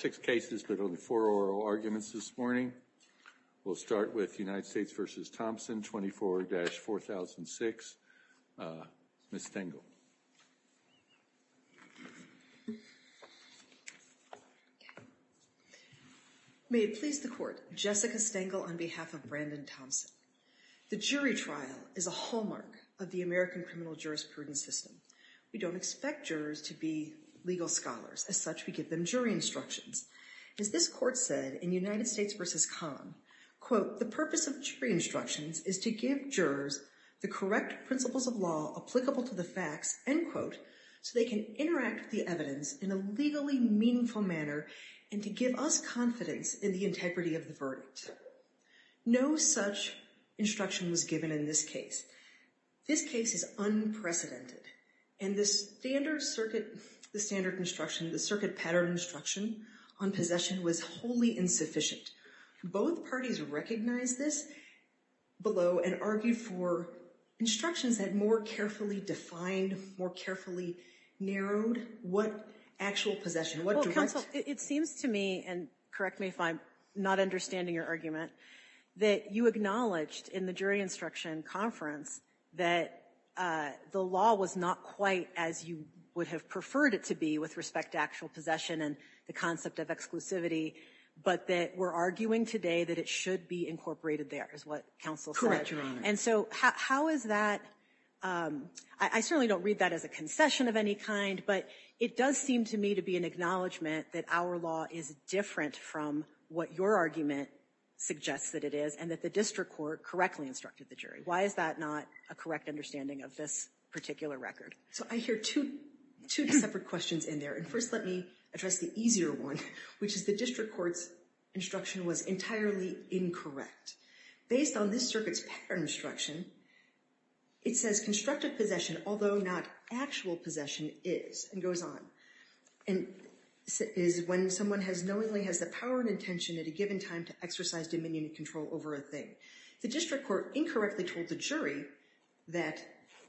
24-4006, Ms. Stengel May it please the court, Jessica Stengel on behalf of Brandon Thompson. The jury trial is a hallmark of the American criminal jurisprudence system. We don't expect jurors to be legal scholars, as such we give them jury instructions. As this court said in United States v. Kahn, quote, the purpose of jury instructions is to give jurors the correct principles of law applicable to the facts, end quote, so they can interact with the evidence in a legally meaningful manner and to give us confidence in the integrity of the verdict. No such instruction was given in this case. This case is unprecedented, and the standard circuit, the standard instruction, the circuit pattern instruction on possession was wholly insufficient. Both parties recognized this below and argued for instructions that more carefully defined, more carefully narrowed what actual possession, what direct. Well, counsel, it seems to me, and correct me if I'm not understanding your argument, that you acknowledged in the jury instruction conference that the law was not quite as you would have preferred it to be with respect to actual possession and the concept of exclusivity, but that we're arguing today that it should be incorporated there is what counsel said. And so how is that, I certainly don't read that as a concession of any kind, but it does seem to me to be an acknowledgement that our law is different from what your argument suggests that it is and that the district court correctly instructed the jury. Why is that not a correct understanding of this particular record? So I hear two separate questions in there. And first, let me address the easier one, which is the district court's instruction was entirely incorrect. Based on this circuit's pattern instruction, it says constructive possession, although not actual possession, is, and goes on. And is when someone has knowingly has the power and intention at a given time to exercise dominion and control over a thing. The district court incorrectly told the jury that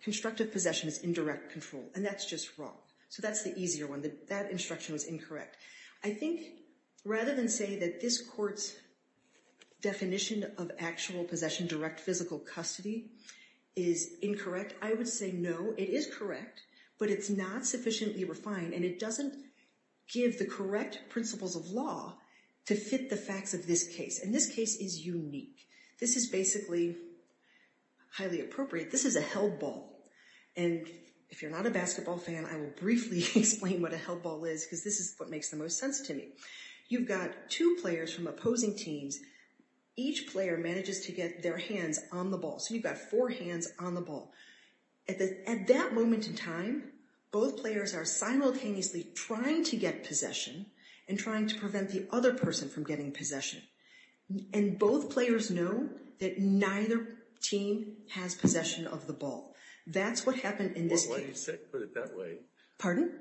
constructive possession is indirect control, and that's just wrong, so that's the easier one, that instruction was incorrect. I think rather than say that this court's definition of actual possession, direct physical custody, is incorrect, I would say no, it is correct. But it's not sufficiently refined, and it doesn't give the correct principles of law to fit the facts of this case. And this case is unique. This is basically highly appropriate. This is a held ball. And if you're not a basketball fan, I will briefly explain what a held ball is, because this is what makes the most sense to me. You've got two players from opposing teams. Each player manages to get their hands on the ball. So you've got four hands on the ball. At that moment in time, both players are simultaneously trying to get possession, and trying to prevent the other person from getting possession. And both players know that neither team has possession of the ball. That's what happened in this case. Why do you put it that way? Pardon?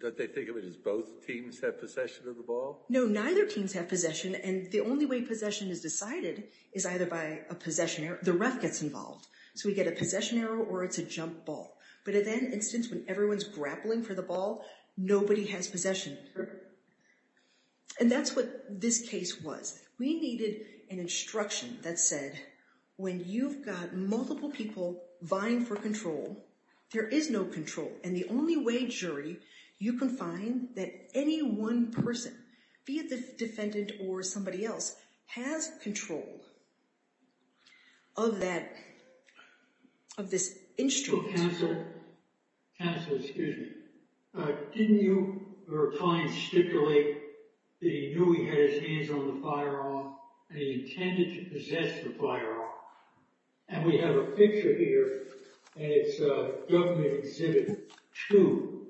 That they think of it as both teams have possession of the ball? No, neither teams have possession, and the only way possession is decided is either by a possession, the ref gets involved. So we get a possession arrow, or it's a jump ball. But in that instance, when everyone's grappling for the ball, nobody has possession. And that's what this case was. We needed an instruction that said, when you've got multiple people vying for control, there is no control. And the only way, jury, you can find that any one person, be it the defendant or somebody else, has control of that, of this instrument. Counsel, counsel, excuse me. Didn't your client stipulate that he knew he had his hands on the firearm, and he intended to possess the firearm? And we have a picture here, and it's a government exhibit, too.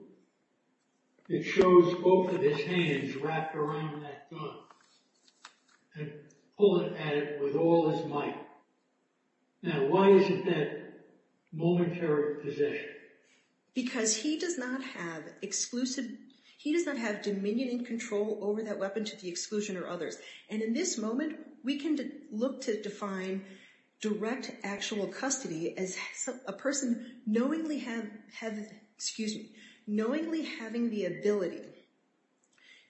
It shows both of his hands wrapped around that gun. And pulling at it with all his might. Now, why is it that momentary possession? Because he does not have exclusive, he does not have dominion and control over that weapon to the exclusion or others. And in this moment, we can look to define direct actual custody as a person knowingly have, excuse me, knowingly having the ability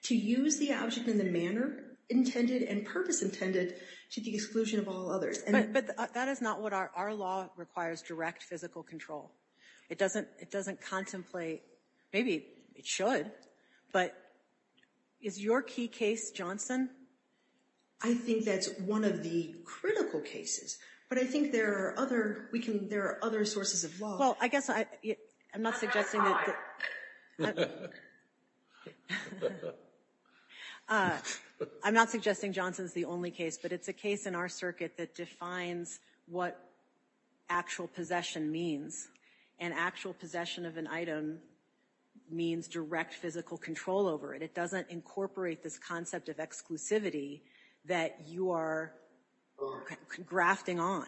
to use the object in the manner intended and purpose intended to the exclusion of all others. But that is not what our law requires, direct physical control. It doesn't contemplate, maybe it should, but is your key case Johnson? I think that's one of the critical cases, but I think there are other sources of law. Well, I guess I'm not suggesting that- I'm not suggesting Johnson's the only case, but it's a case in our circuit that defines what actual possession means. And actual possession of an item means direct physical control over it. It doesn't incorporate this concept of exclusivity that you are grafting on.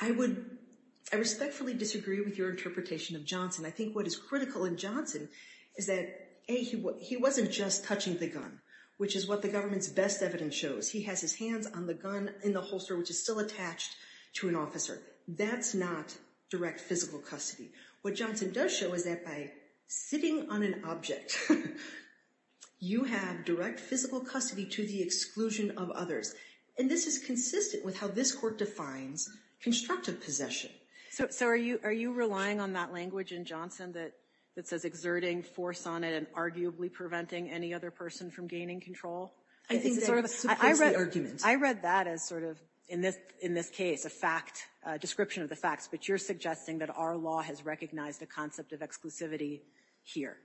I respectfully disagree with your interpretation of Johnson. I think what is critical in Johnson is that, A, he wasn't just touching the gun, which is what the government's best evidence shows. He has his hands on the gun in the holster, which is still attached to an officer. That's not direct physical custody. What Johnson does show is that by sitting on an object, you have direct physical custody to the exclusion of others. And this is consistent with how this court defines constructive possession. So are you relying on that language in Johnson that says exerting force on it and arguably preventing any other person from gaining control? I think that supports the argument. I read that as sort of, in this case, a description of the facts. But you're suggesting that our law has recognized the concept of exclusivity here.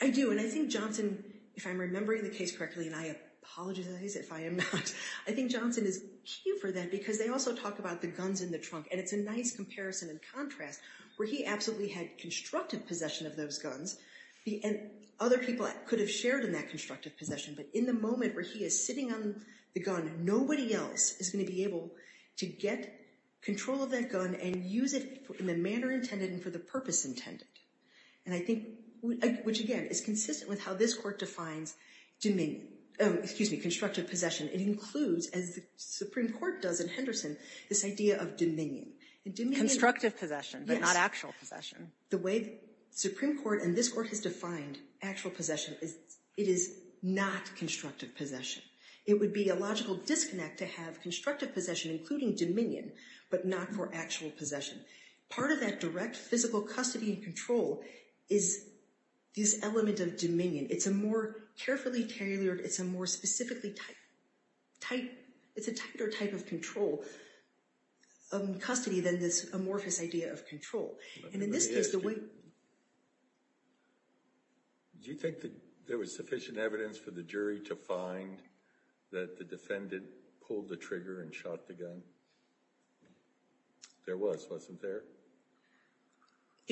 I do, and I think Johnson, if I'm remembering the case correctly, and I apologize if I am not, I think Johnson is key for that because they also talk about the guns in the trunk. And it's a nice comparison and contrast where he absolutely had constructive possession of those guns. And other people could have shared in that constructive possession. But in the moment where he is sitting on the gun, nobody else is gonna be able to get control of that gun and use it in the manner intended and for the purpose intended. And I think, which again, is consistent with how this court defines constructive possession, it includes, as the Supreme Court does in Henderson, this idea of dominion. Constructive possession, but not actual possession. The way the Supreme Court and this court has defined actual possession is, it is not constructive possession. It would be a logical disconnect to have constructive possession including dominion, but not for actual possession. Part of that direct physical custody and control is this element of dominion. It's a more carefully tailored, it's a more specifically type, it's a tighter type of control of custody than this amorphous idea of control. And in this case, the way- Let me ask you, do you think that there was sufficient evidence for the jury to find that the defendant pulled the trigger and shot the gun? There was, wasn't there? So,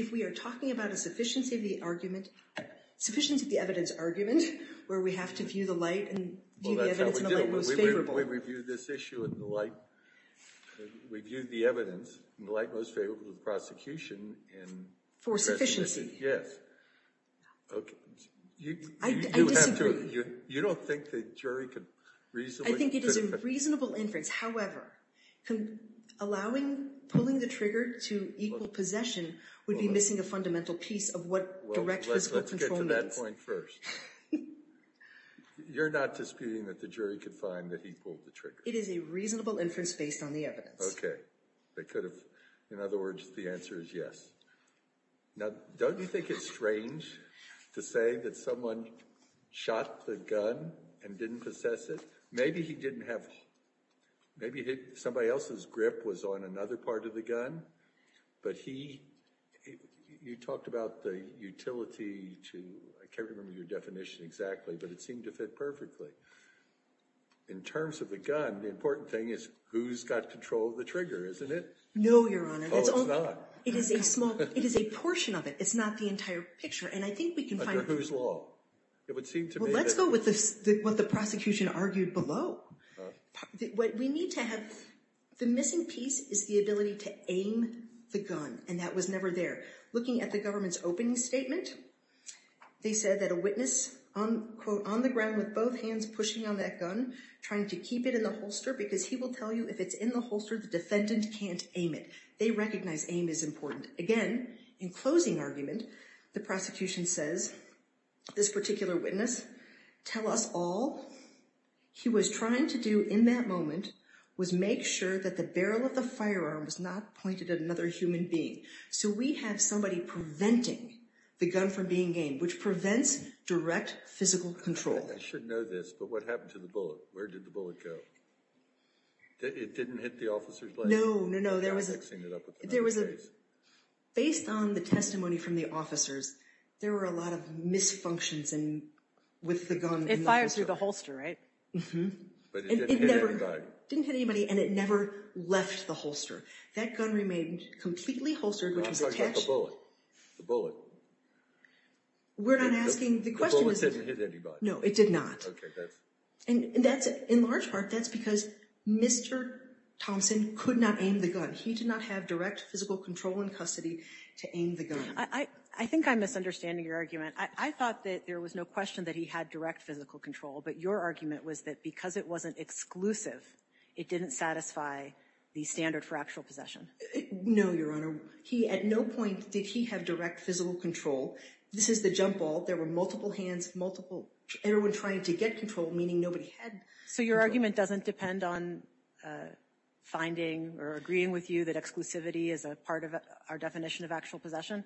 if we are talking about a sufficiency of the argument, sufficiency of the evidence argument, where we have to view the light and view the evidence in the light most favorable- Well, that's how we do it, but we review this issue in the light, we view the evidence in the light most favorable to the prosecution and- For sufficiency. Yes. Okay. I disagree. You don't think the jury could reasonably- I think it is a reasonable inference. However, allowing, pulling the trigger to equal possession would be missing a fundamental piece of what direct physical control means. Well, let's get to that point first. You're not disputing that the jury could find that he pulled the trigger? It is a reasonable inference based on the evidence. Okay. They could have, in other words, the answer is yes. Now, don't you think it's strange to say that someone shot the gun and didn't possess it? Maybe he didn't have, maybe somebody else's grip was on another part of the gun, but he, you talked about the utility to, I can't remember your definition exactly, but it seemed to fit perfectly. In terms of the gun, the important thing is who's got control of the trigger, isn't it? No, Your Honor. Oh, it's not? It is a small, it is a portion of it. It's not the entire picture, and I think we can find- Under whose law? It would seem to me that- Let's go with what the prosecution argued below. What we need to have, the missing piece is the ability to aim the gun, and that was never there. Looking at the government's opening statement, they said that a witness, quote, on the ground with both hands pushing on that gun, trying to keep it in the holster because he will tell you if it's in the holster, the defendant can't aim it. They recognize aim is important. Again, in closing argument, the prosecution says, this particular witness, tell us all he was trying to do in that moment was make sure that the barrel of the firearm was not pointed at another human being. So, we have somebody preventing the gun from being aimed, which prevents direct physical control. I should know this, but what happened to the bullet? Where did the bullet go? It didn't hit the officer's leg? No, no, no. Based on the testimony from the officers, there were a lot of misfunctions with the gun. It fired through the holster, right? But it didn't hit anybody. It didn't hit anybody, and it never left the holster. That gun remained completely holstered, which was attached- I thought you got the bullet. The bullet. We're not asking- The bullet didn't hit anybody. No, it did not. Okay, that's- And in large part, that's because Mr. Thompson could not aim the gun. He did not have direct physical control in custody to aim the gun. I think I'm misunderstanding your argument. I thought that there was no question that he had direct physical control, but your argument was that because it wasn't exclusive, it didn't satisfy the standard for actual possession. No, Your Honor. He, at no point, did he have direct physical control. This is the jump ball. There were multiple hands, multiple, everyone trying to get control, meaning nobody had- So your argument doesn't depend on finding or agreeing with you that exclusivity is a part of our definition of actual possession?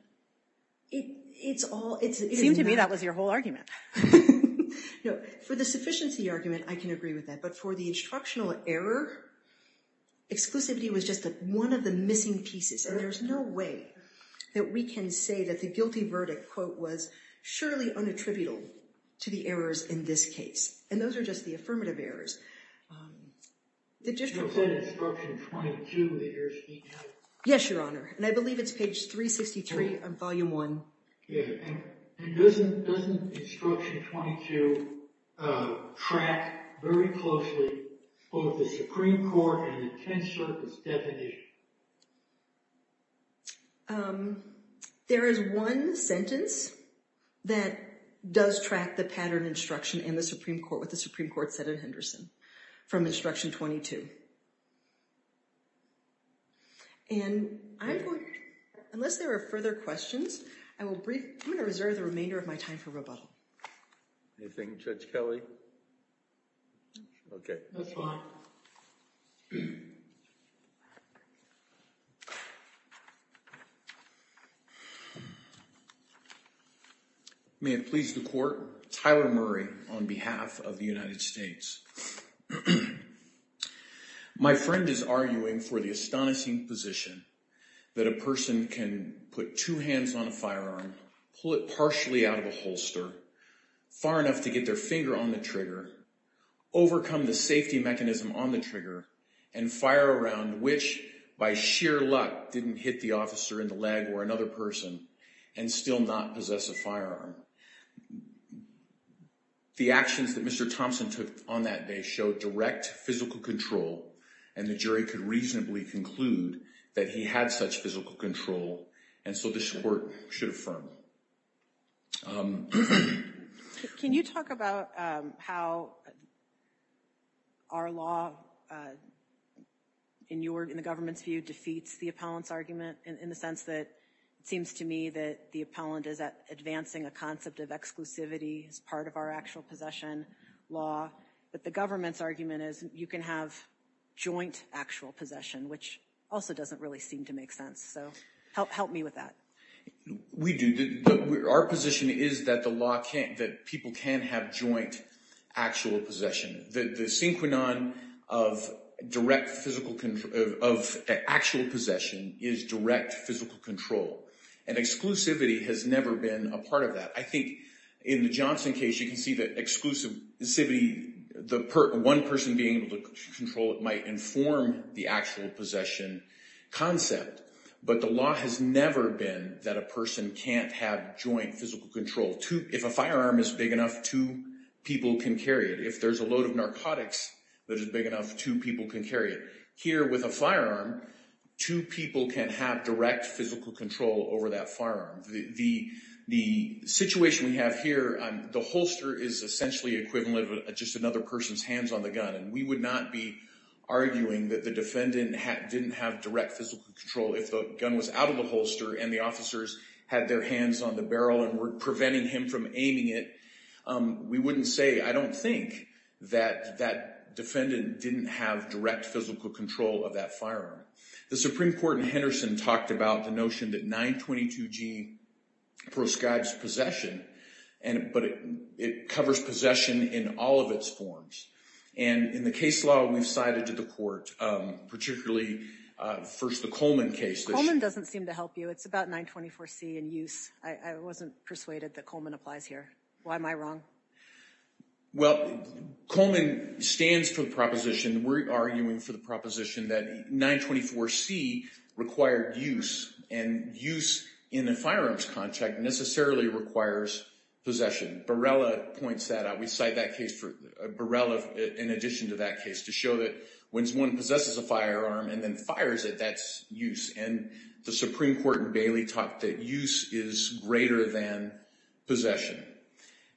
It's all- It seemed to me that was your whole argument. No, for the sufficiency argument, I can agree with that. But for the instructional error, exclusivity was just one of the missing pieces. And there's no way that we can say that the guilty verdict, quote, was surely unattributable to the errors in this case. And those are just the affirmative errors. The district court- You said instruction 22, the errors in each of them? Yes, Your Honor, and I believe it's page 363 of volume one. Yeah, and doesn't instruction 22 track very closely both the Supreme Court and the Tenth Circuit's definition? There is one sentence that does track the pattern instruction in the Supreme Court, what the Supreme Court said in Henderson, from instruction 22. And I'm going to, unless there are further questions, I'm going to reserve the remainder of my time for rebuttal. Anything, Judge Kelly? No. Okay. That's fine. May it please the court. Tyler Murray on behalf of the United States. My friend is arguing for the astonishing position that a person can put two hands on a firearm, pull it partially out of a holster, far enough to get their finger on the trigger, overcome the safety mechanism on the trigger, and fire around which, by sheer luck, didn't hit the officer in the leg or another person. And still not possess a firearm. The actions that Mr. Thompson took on that day showed direct physical control. And the jury could reasonably conclude that he had such physical control. And so this court should affirm. Can you talk about how our law, in the government's view, defeats the appellant's argument in the sense that it seems to me that the appellant is advancing a concept of exclusivity as part of our actual possession law, but the government's argument is you can have joint actual possession, which also doesn't really seem to make sense, so help me with that. We do. Our position is that the law can't, that people can have joint actual possession. The synchronon of direct physical control, of actual possession, is direct physical control. And exclusivity has never been a part of that. I think in the Johnson case, you can see that exclusivity, the one person being able to control it might inform the actual possession concept. But the law has never been that a person can't have joint physical control. If a firearm is big enough, two people can carry it. If there's a load of narcotics that is big enough, two people can carry it. Here with a firearm, two people can have direct physical control over that firearm. The situation we have here, the holster is essentially equivalent of just another person's hands on the gun, and we would not be arguing that the defendant didn't have direct physical control if the gun was out of the holster and the officers had their hands on the barrel and were preventing him from aiming it. We wouldn't say, I don't think that that defendant didn't have direct physical control of that firearm. The Supreme Court in Henderson talked about the notion that 922G proscribes possession, but it covers possession in all of its forms. And in the case law we've cited to the court, particularly first the Coleman case. Coleman doesn't seem to help you. It's about 924C in use. I wasn't persuaded that Coleman applies here. Why am I wrong? Well, Coleman stands for the proposition. We're arguing for the proposition that 924C required use. And use in a firearms contract necessarily requires possession. Barela points that out. We cite that case for, Barela, in addition to that case, to show that when one possesses a firearm and then fires it, that's use. And the Supreme Court in Bailey taught that use is greater than possession.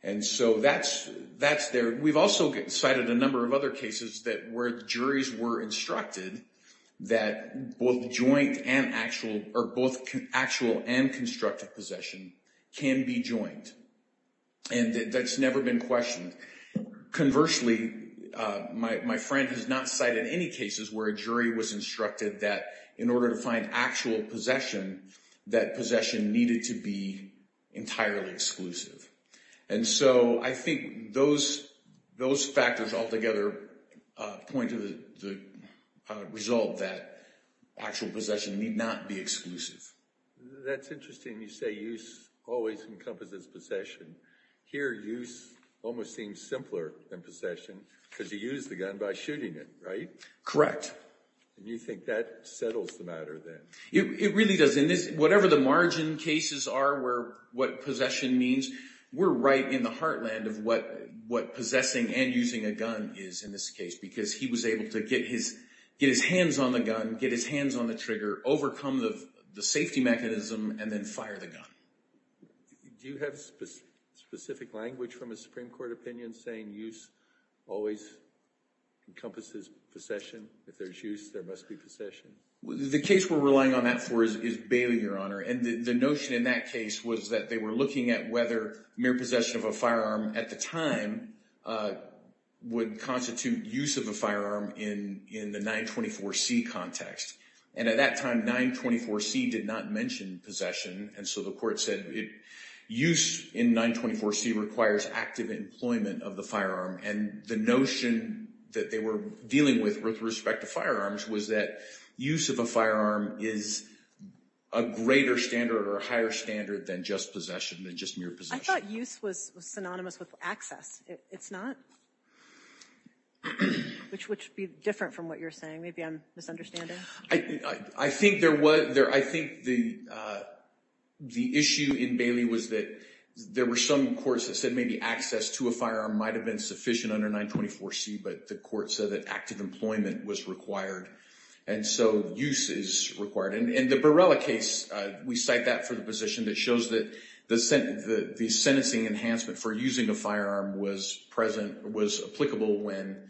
And so that's there. We've also cited a number of other cases that where juries were instructed that both joint and actual, or both actual and constructive possession can be joined. And that's never been questioned. Conversely, my friend has not cited any cases where a jury was instructed that in order to find actual possession, that possession needed to be entirely exclusive. And so I think those factors altogether point to the result that actual possession need not be exclusive. That's interesting you say use always encompasses possession. Here use almost seems simpler than possession, because you use the gun by shooting it, right? Correct. And you think that settles the matter then? It really does. In this, whatever the margin cases are where what possession means, we're right in the heartland of what possessing and using a gun is in this case. Because he was able to get his hands on the gun, get his hands on the trigger, overcome the safety mechanism, and then fire the gun. Do you have specific language from a Supreme Court opinion saying use always encompasses possession? If there's use, there must be possession. The case we're relying on that for is Bailey, Your Honor. And the notion in that case was that they were looking at whether mere possession of a firearm at the time would constitute use of a firearm in the 924C context. And at that time, 924C did not mention possession. And so the court said use in 924C requires active employment of the firearm. And the notion that they were dealing with with respect to firearms was that use of a firearm is a greater standard or a higher standard than just possession, than just mere possession. I thought use was synonymous with access. It's not? Which would be different from what you're saying. Maybe I'm misunderstanding. I think there was, I think the issue in Bailey was that there were some courts that said maybe access to a firearm might have been sufficient under 924C, but the court said that active employment was required. And so use is required. In the Barella case, we cite that for the position that shows that the sentencing enhancement for using a firearm was present, was applicable when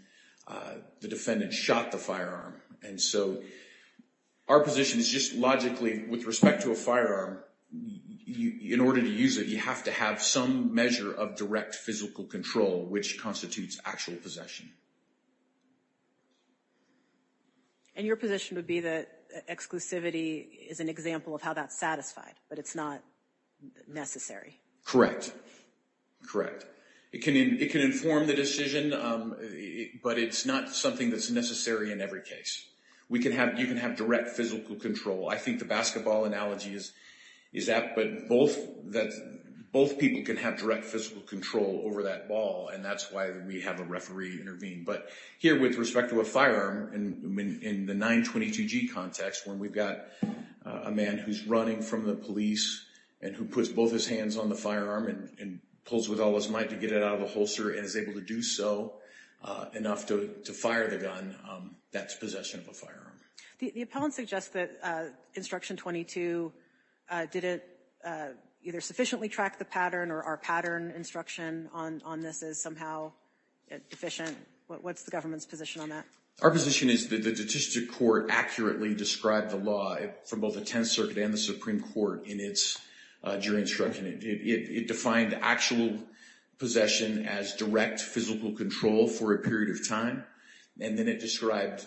the defendant shot the firearm. And so our position is just logically, with respect to a firearm, in order to use it, you have to have some measure of direct physical control, which constitutes actual possession. And your position would be that exclusivity is an example of how that's satisfied, but it's not necessary? Correct, correct. It can inform the decision, but it's not something that's necessary in every case. You can have direct physical control. I think the basketball analogy is that, but both people can have direct physical control over that ball, and that's why we have a referee intervene. But here, with respect to a firearm, in the 922G context, when we've got a man who's running from the police, and who puts both his hands on the firearm, and pulls with all his might to get it out of the holster, and is able to do so enough to fire the gun, that's possession of a firearm. The appellant suggests that Instruction 22 didn't either sufficiently track the pattern, or our pattern instruction on this is somehow deficient. What's the government's position on that? Our position is that the statistic court accurately described the law from both the Tenth Circuit and the Supreme Court in its jury instruction. It defined actual possession as direct physical control for a period of time. And then it described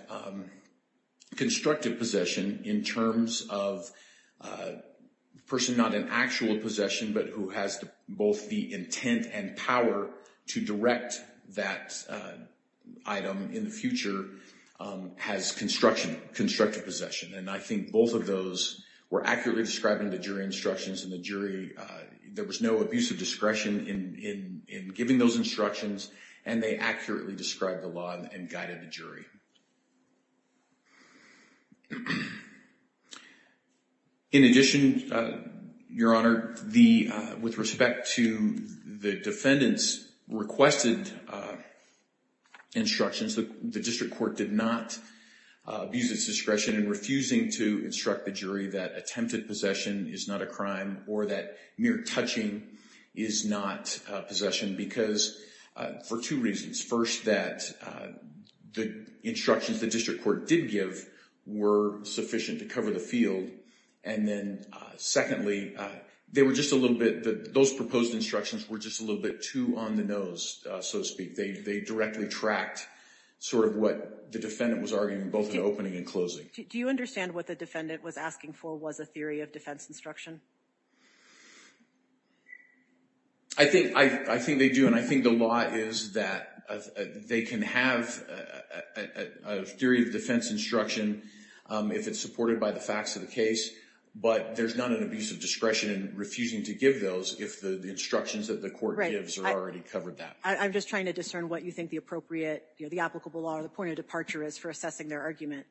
constructive possession in terms of person not in actual possession, but who has both the intent and power to direct that item in the future, has constructive possession. And I think both of those were accurately described in the jury instructions, and the jury, there was no abuse of discretion in giving those instructions, and they accurately described the law and guided the jury. In addition, Your Honor, with respect to the defendant's requested instructions, the district court did not abuse its discretion in refusing to instruct the jury that attempted possession is not a crime, or that mere touching is not possession, because for two reasons. First, that the instructions the district court did give were sufficient to cover the field. And then secondly, those proposed instructions were just a little bit too on the nose, so to speak. They directly tracked sort of what the defendant was arguing, both in the opening and closing. Do you understand what the defendant was asking for was a theory of defense instruction? I think they do, and I think the law is that they can have a theory of defense instruction if it's supported by the facts of the case. But there's not an abuse of discretion in refusing to give those if the instructions that the court gives are already covered that. I'm just trying to discern what you think the appropriate, the applicable law, the point of departure is for assessing their argument.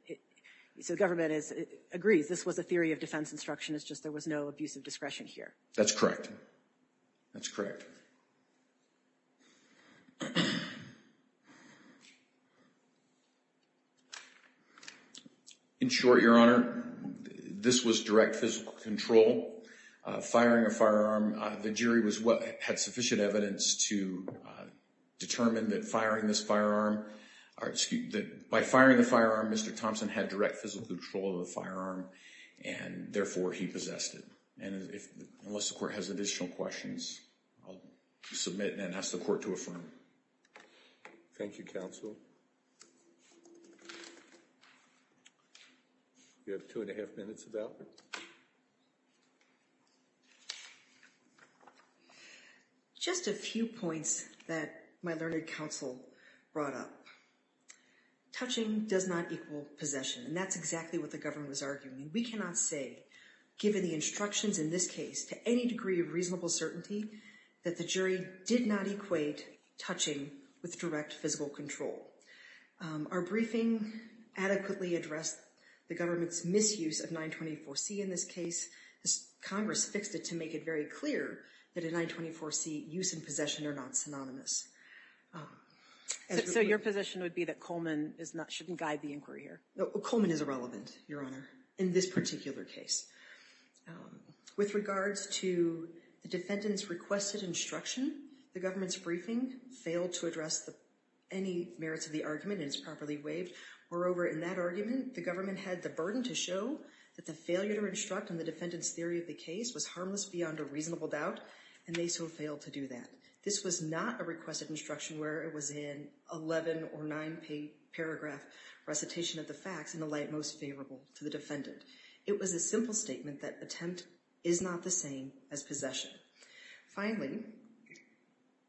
So the government agrees, this was a theory of defense instruction, it's just there was no abuse of discretion here. That's correct, that's correct. In short, Your Honor, this was direct physical control. Firing a firearm, the jury had sufficient evidence to determine that firing this firearm, or excuse me, that by firing the firearm, Mr. Thompson had direct physical control of the firearm, and therefore he possessed it. And unless the court has additional questions, I'll submit and then ask the court to affirm. Thank you, counsel. You have two and a half minutes about it. Just a few points that my learned counsel brought up. Touching does not equal possession, and that's exactly what the government was We cannot say, given the instructions in this case, to any degree of reasonable certainty that the jury did not equate touching with direct physical control. Our briefing adequately addressed the government's misuse of 924C in this case. Congress fixed it to make it very clear that a 924C use and possession are not synonymous. So your position would be that Coleman shouldn't guide the inquiry here? Coleman is irrelevant, Your Honor, in this particular case. With regards to the defendant's requested instruction, the government's briefing failed to address any merits of the argument and it's properly waived. Moreover, in that argument, the government had the burden to show that the failure to instruct on the defendant's theory of the case was harmless beyond a reasonable doubt, and they so failed to do that. This was not a requested instruction where it was in 11 or nine paragraph recitation of the facts in the light most favorable to the defendant. It was a simple statement that attempt is not the same as possession. Finally,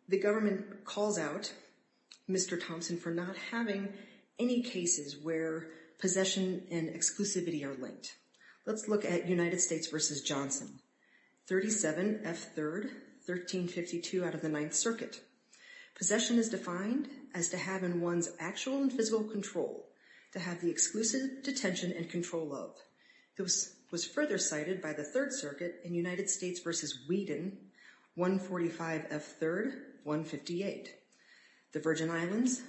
the government calls out Mr. Thompson for not having any cases where possession and exclusivity are linked. Let's look at United States versus Johnson, 37F3rd, 1352 out of the Ninth Circuit. Possession is defined as to have in one's actual and physical control to have the exclusive detention and control of. This was further cited by the Third Circuit in United States versus Whedon, 145F3rd, 158. The Virgin Islands,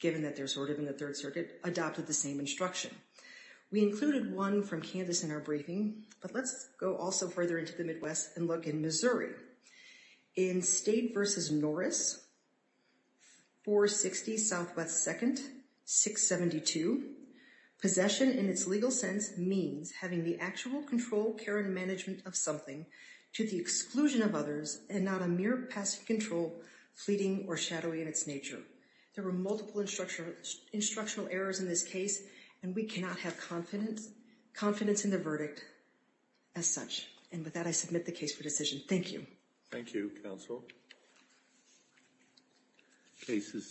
given that they're sort of in the Third Circuit, adopted the same instruction. We included one from Kansas in our briefing, but let's go also further into the Midwest and look in Missouri. In State versus Norris, 460 Southwest 2nd, 672. Possession in its legal sense means having the actual control, care, and management of something to the exclusion of others and not a mere passive control, fleeting or shadowy in its nature. There were multiple instructional errors in this case, and we cannot have confidence in the verdict as such. And with that, I submit the case for decision. Thank you. Thank you, counsel. The case is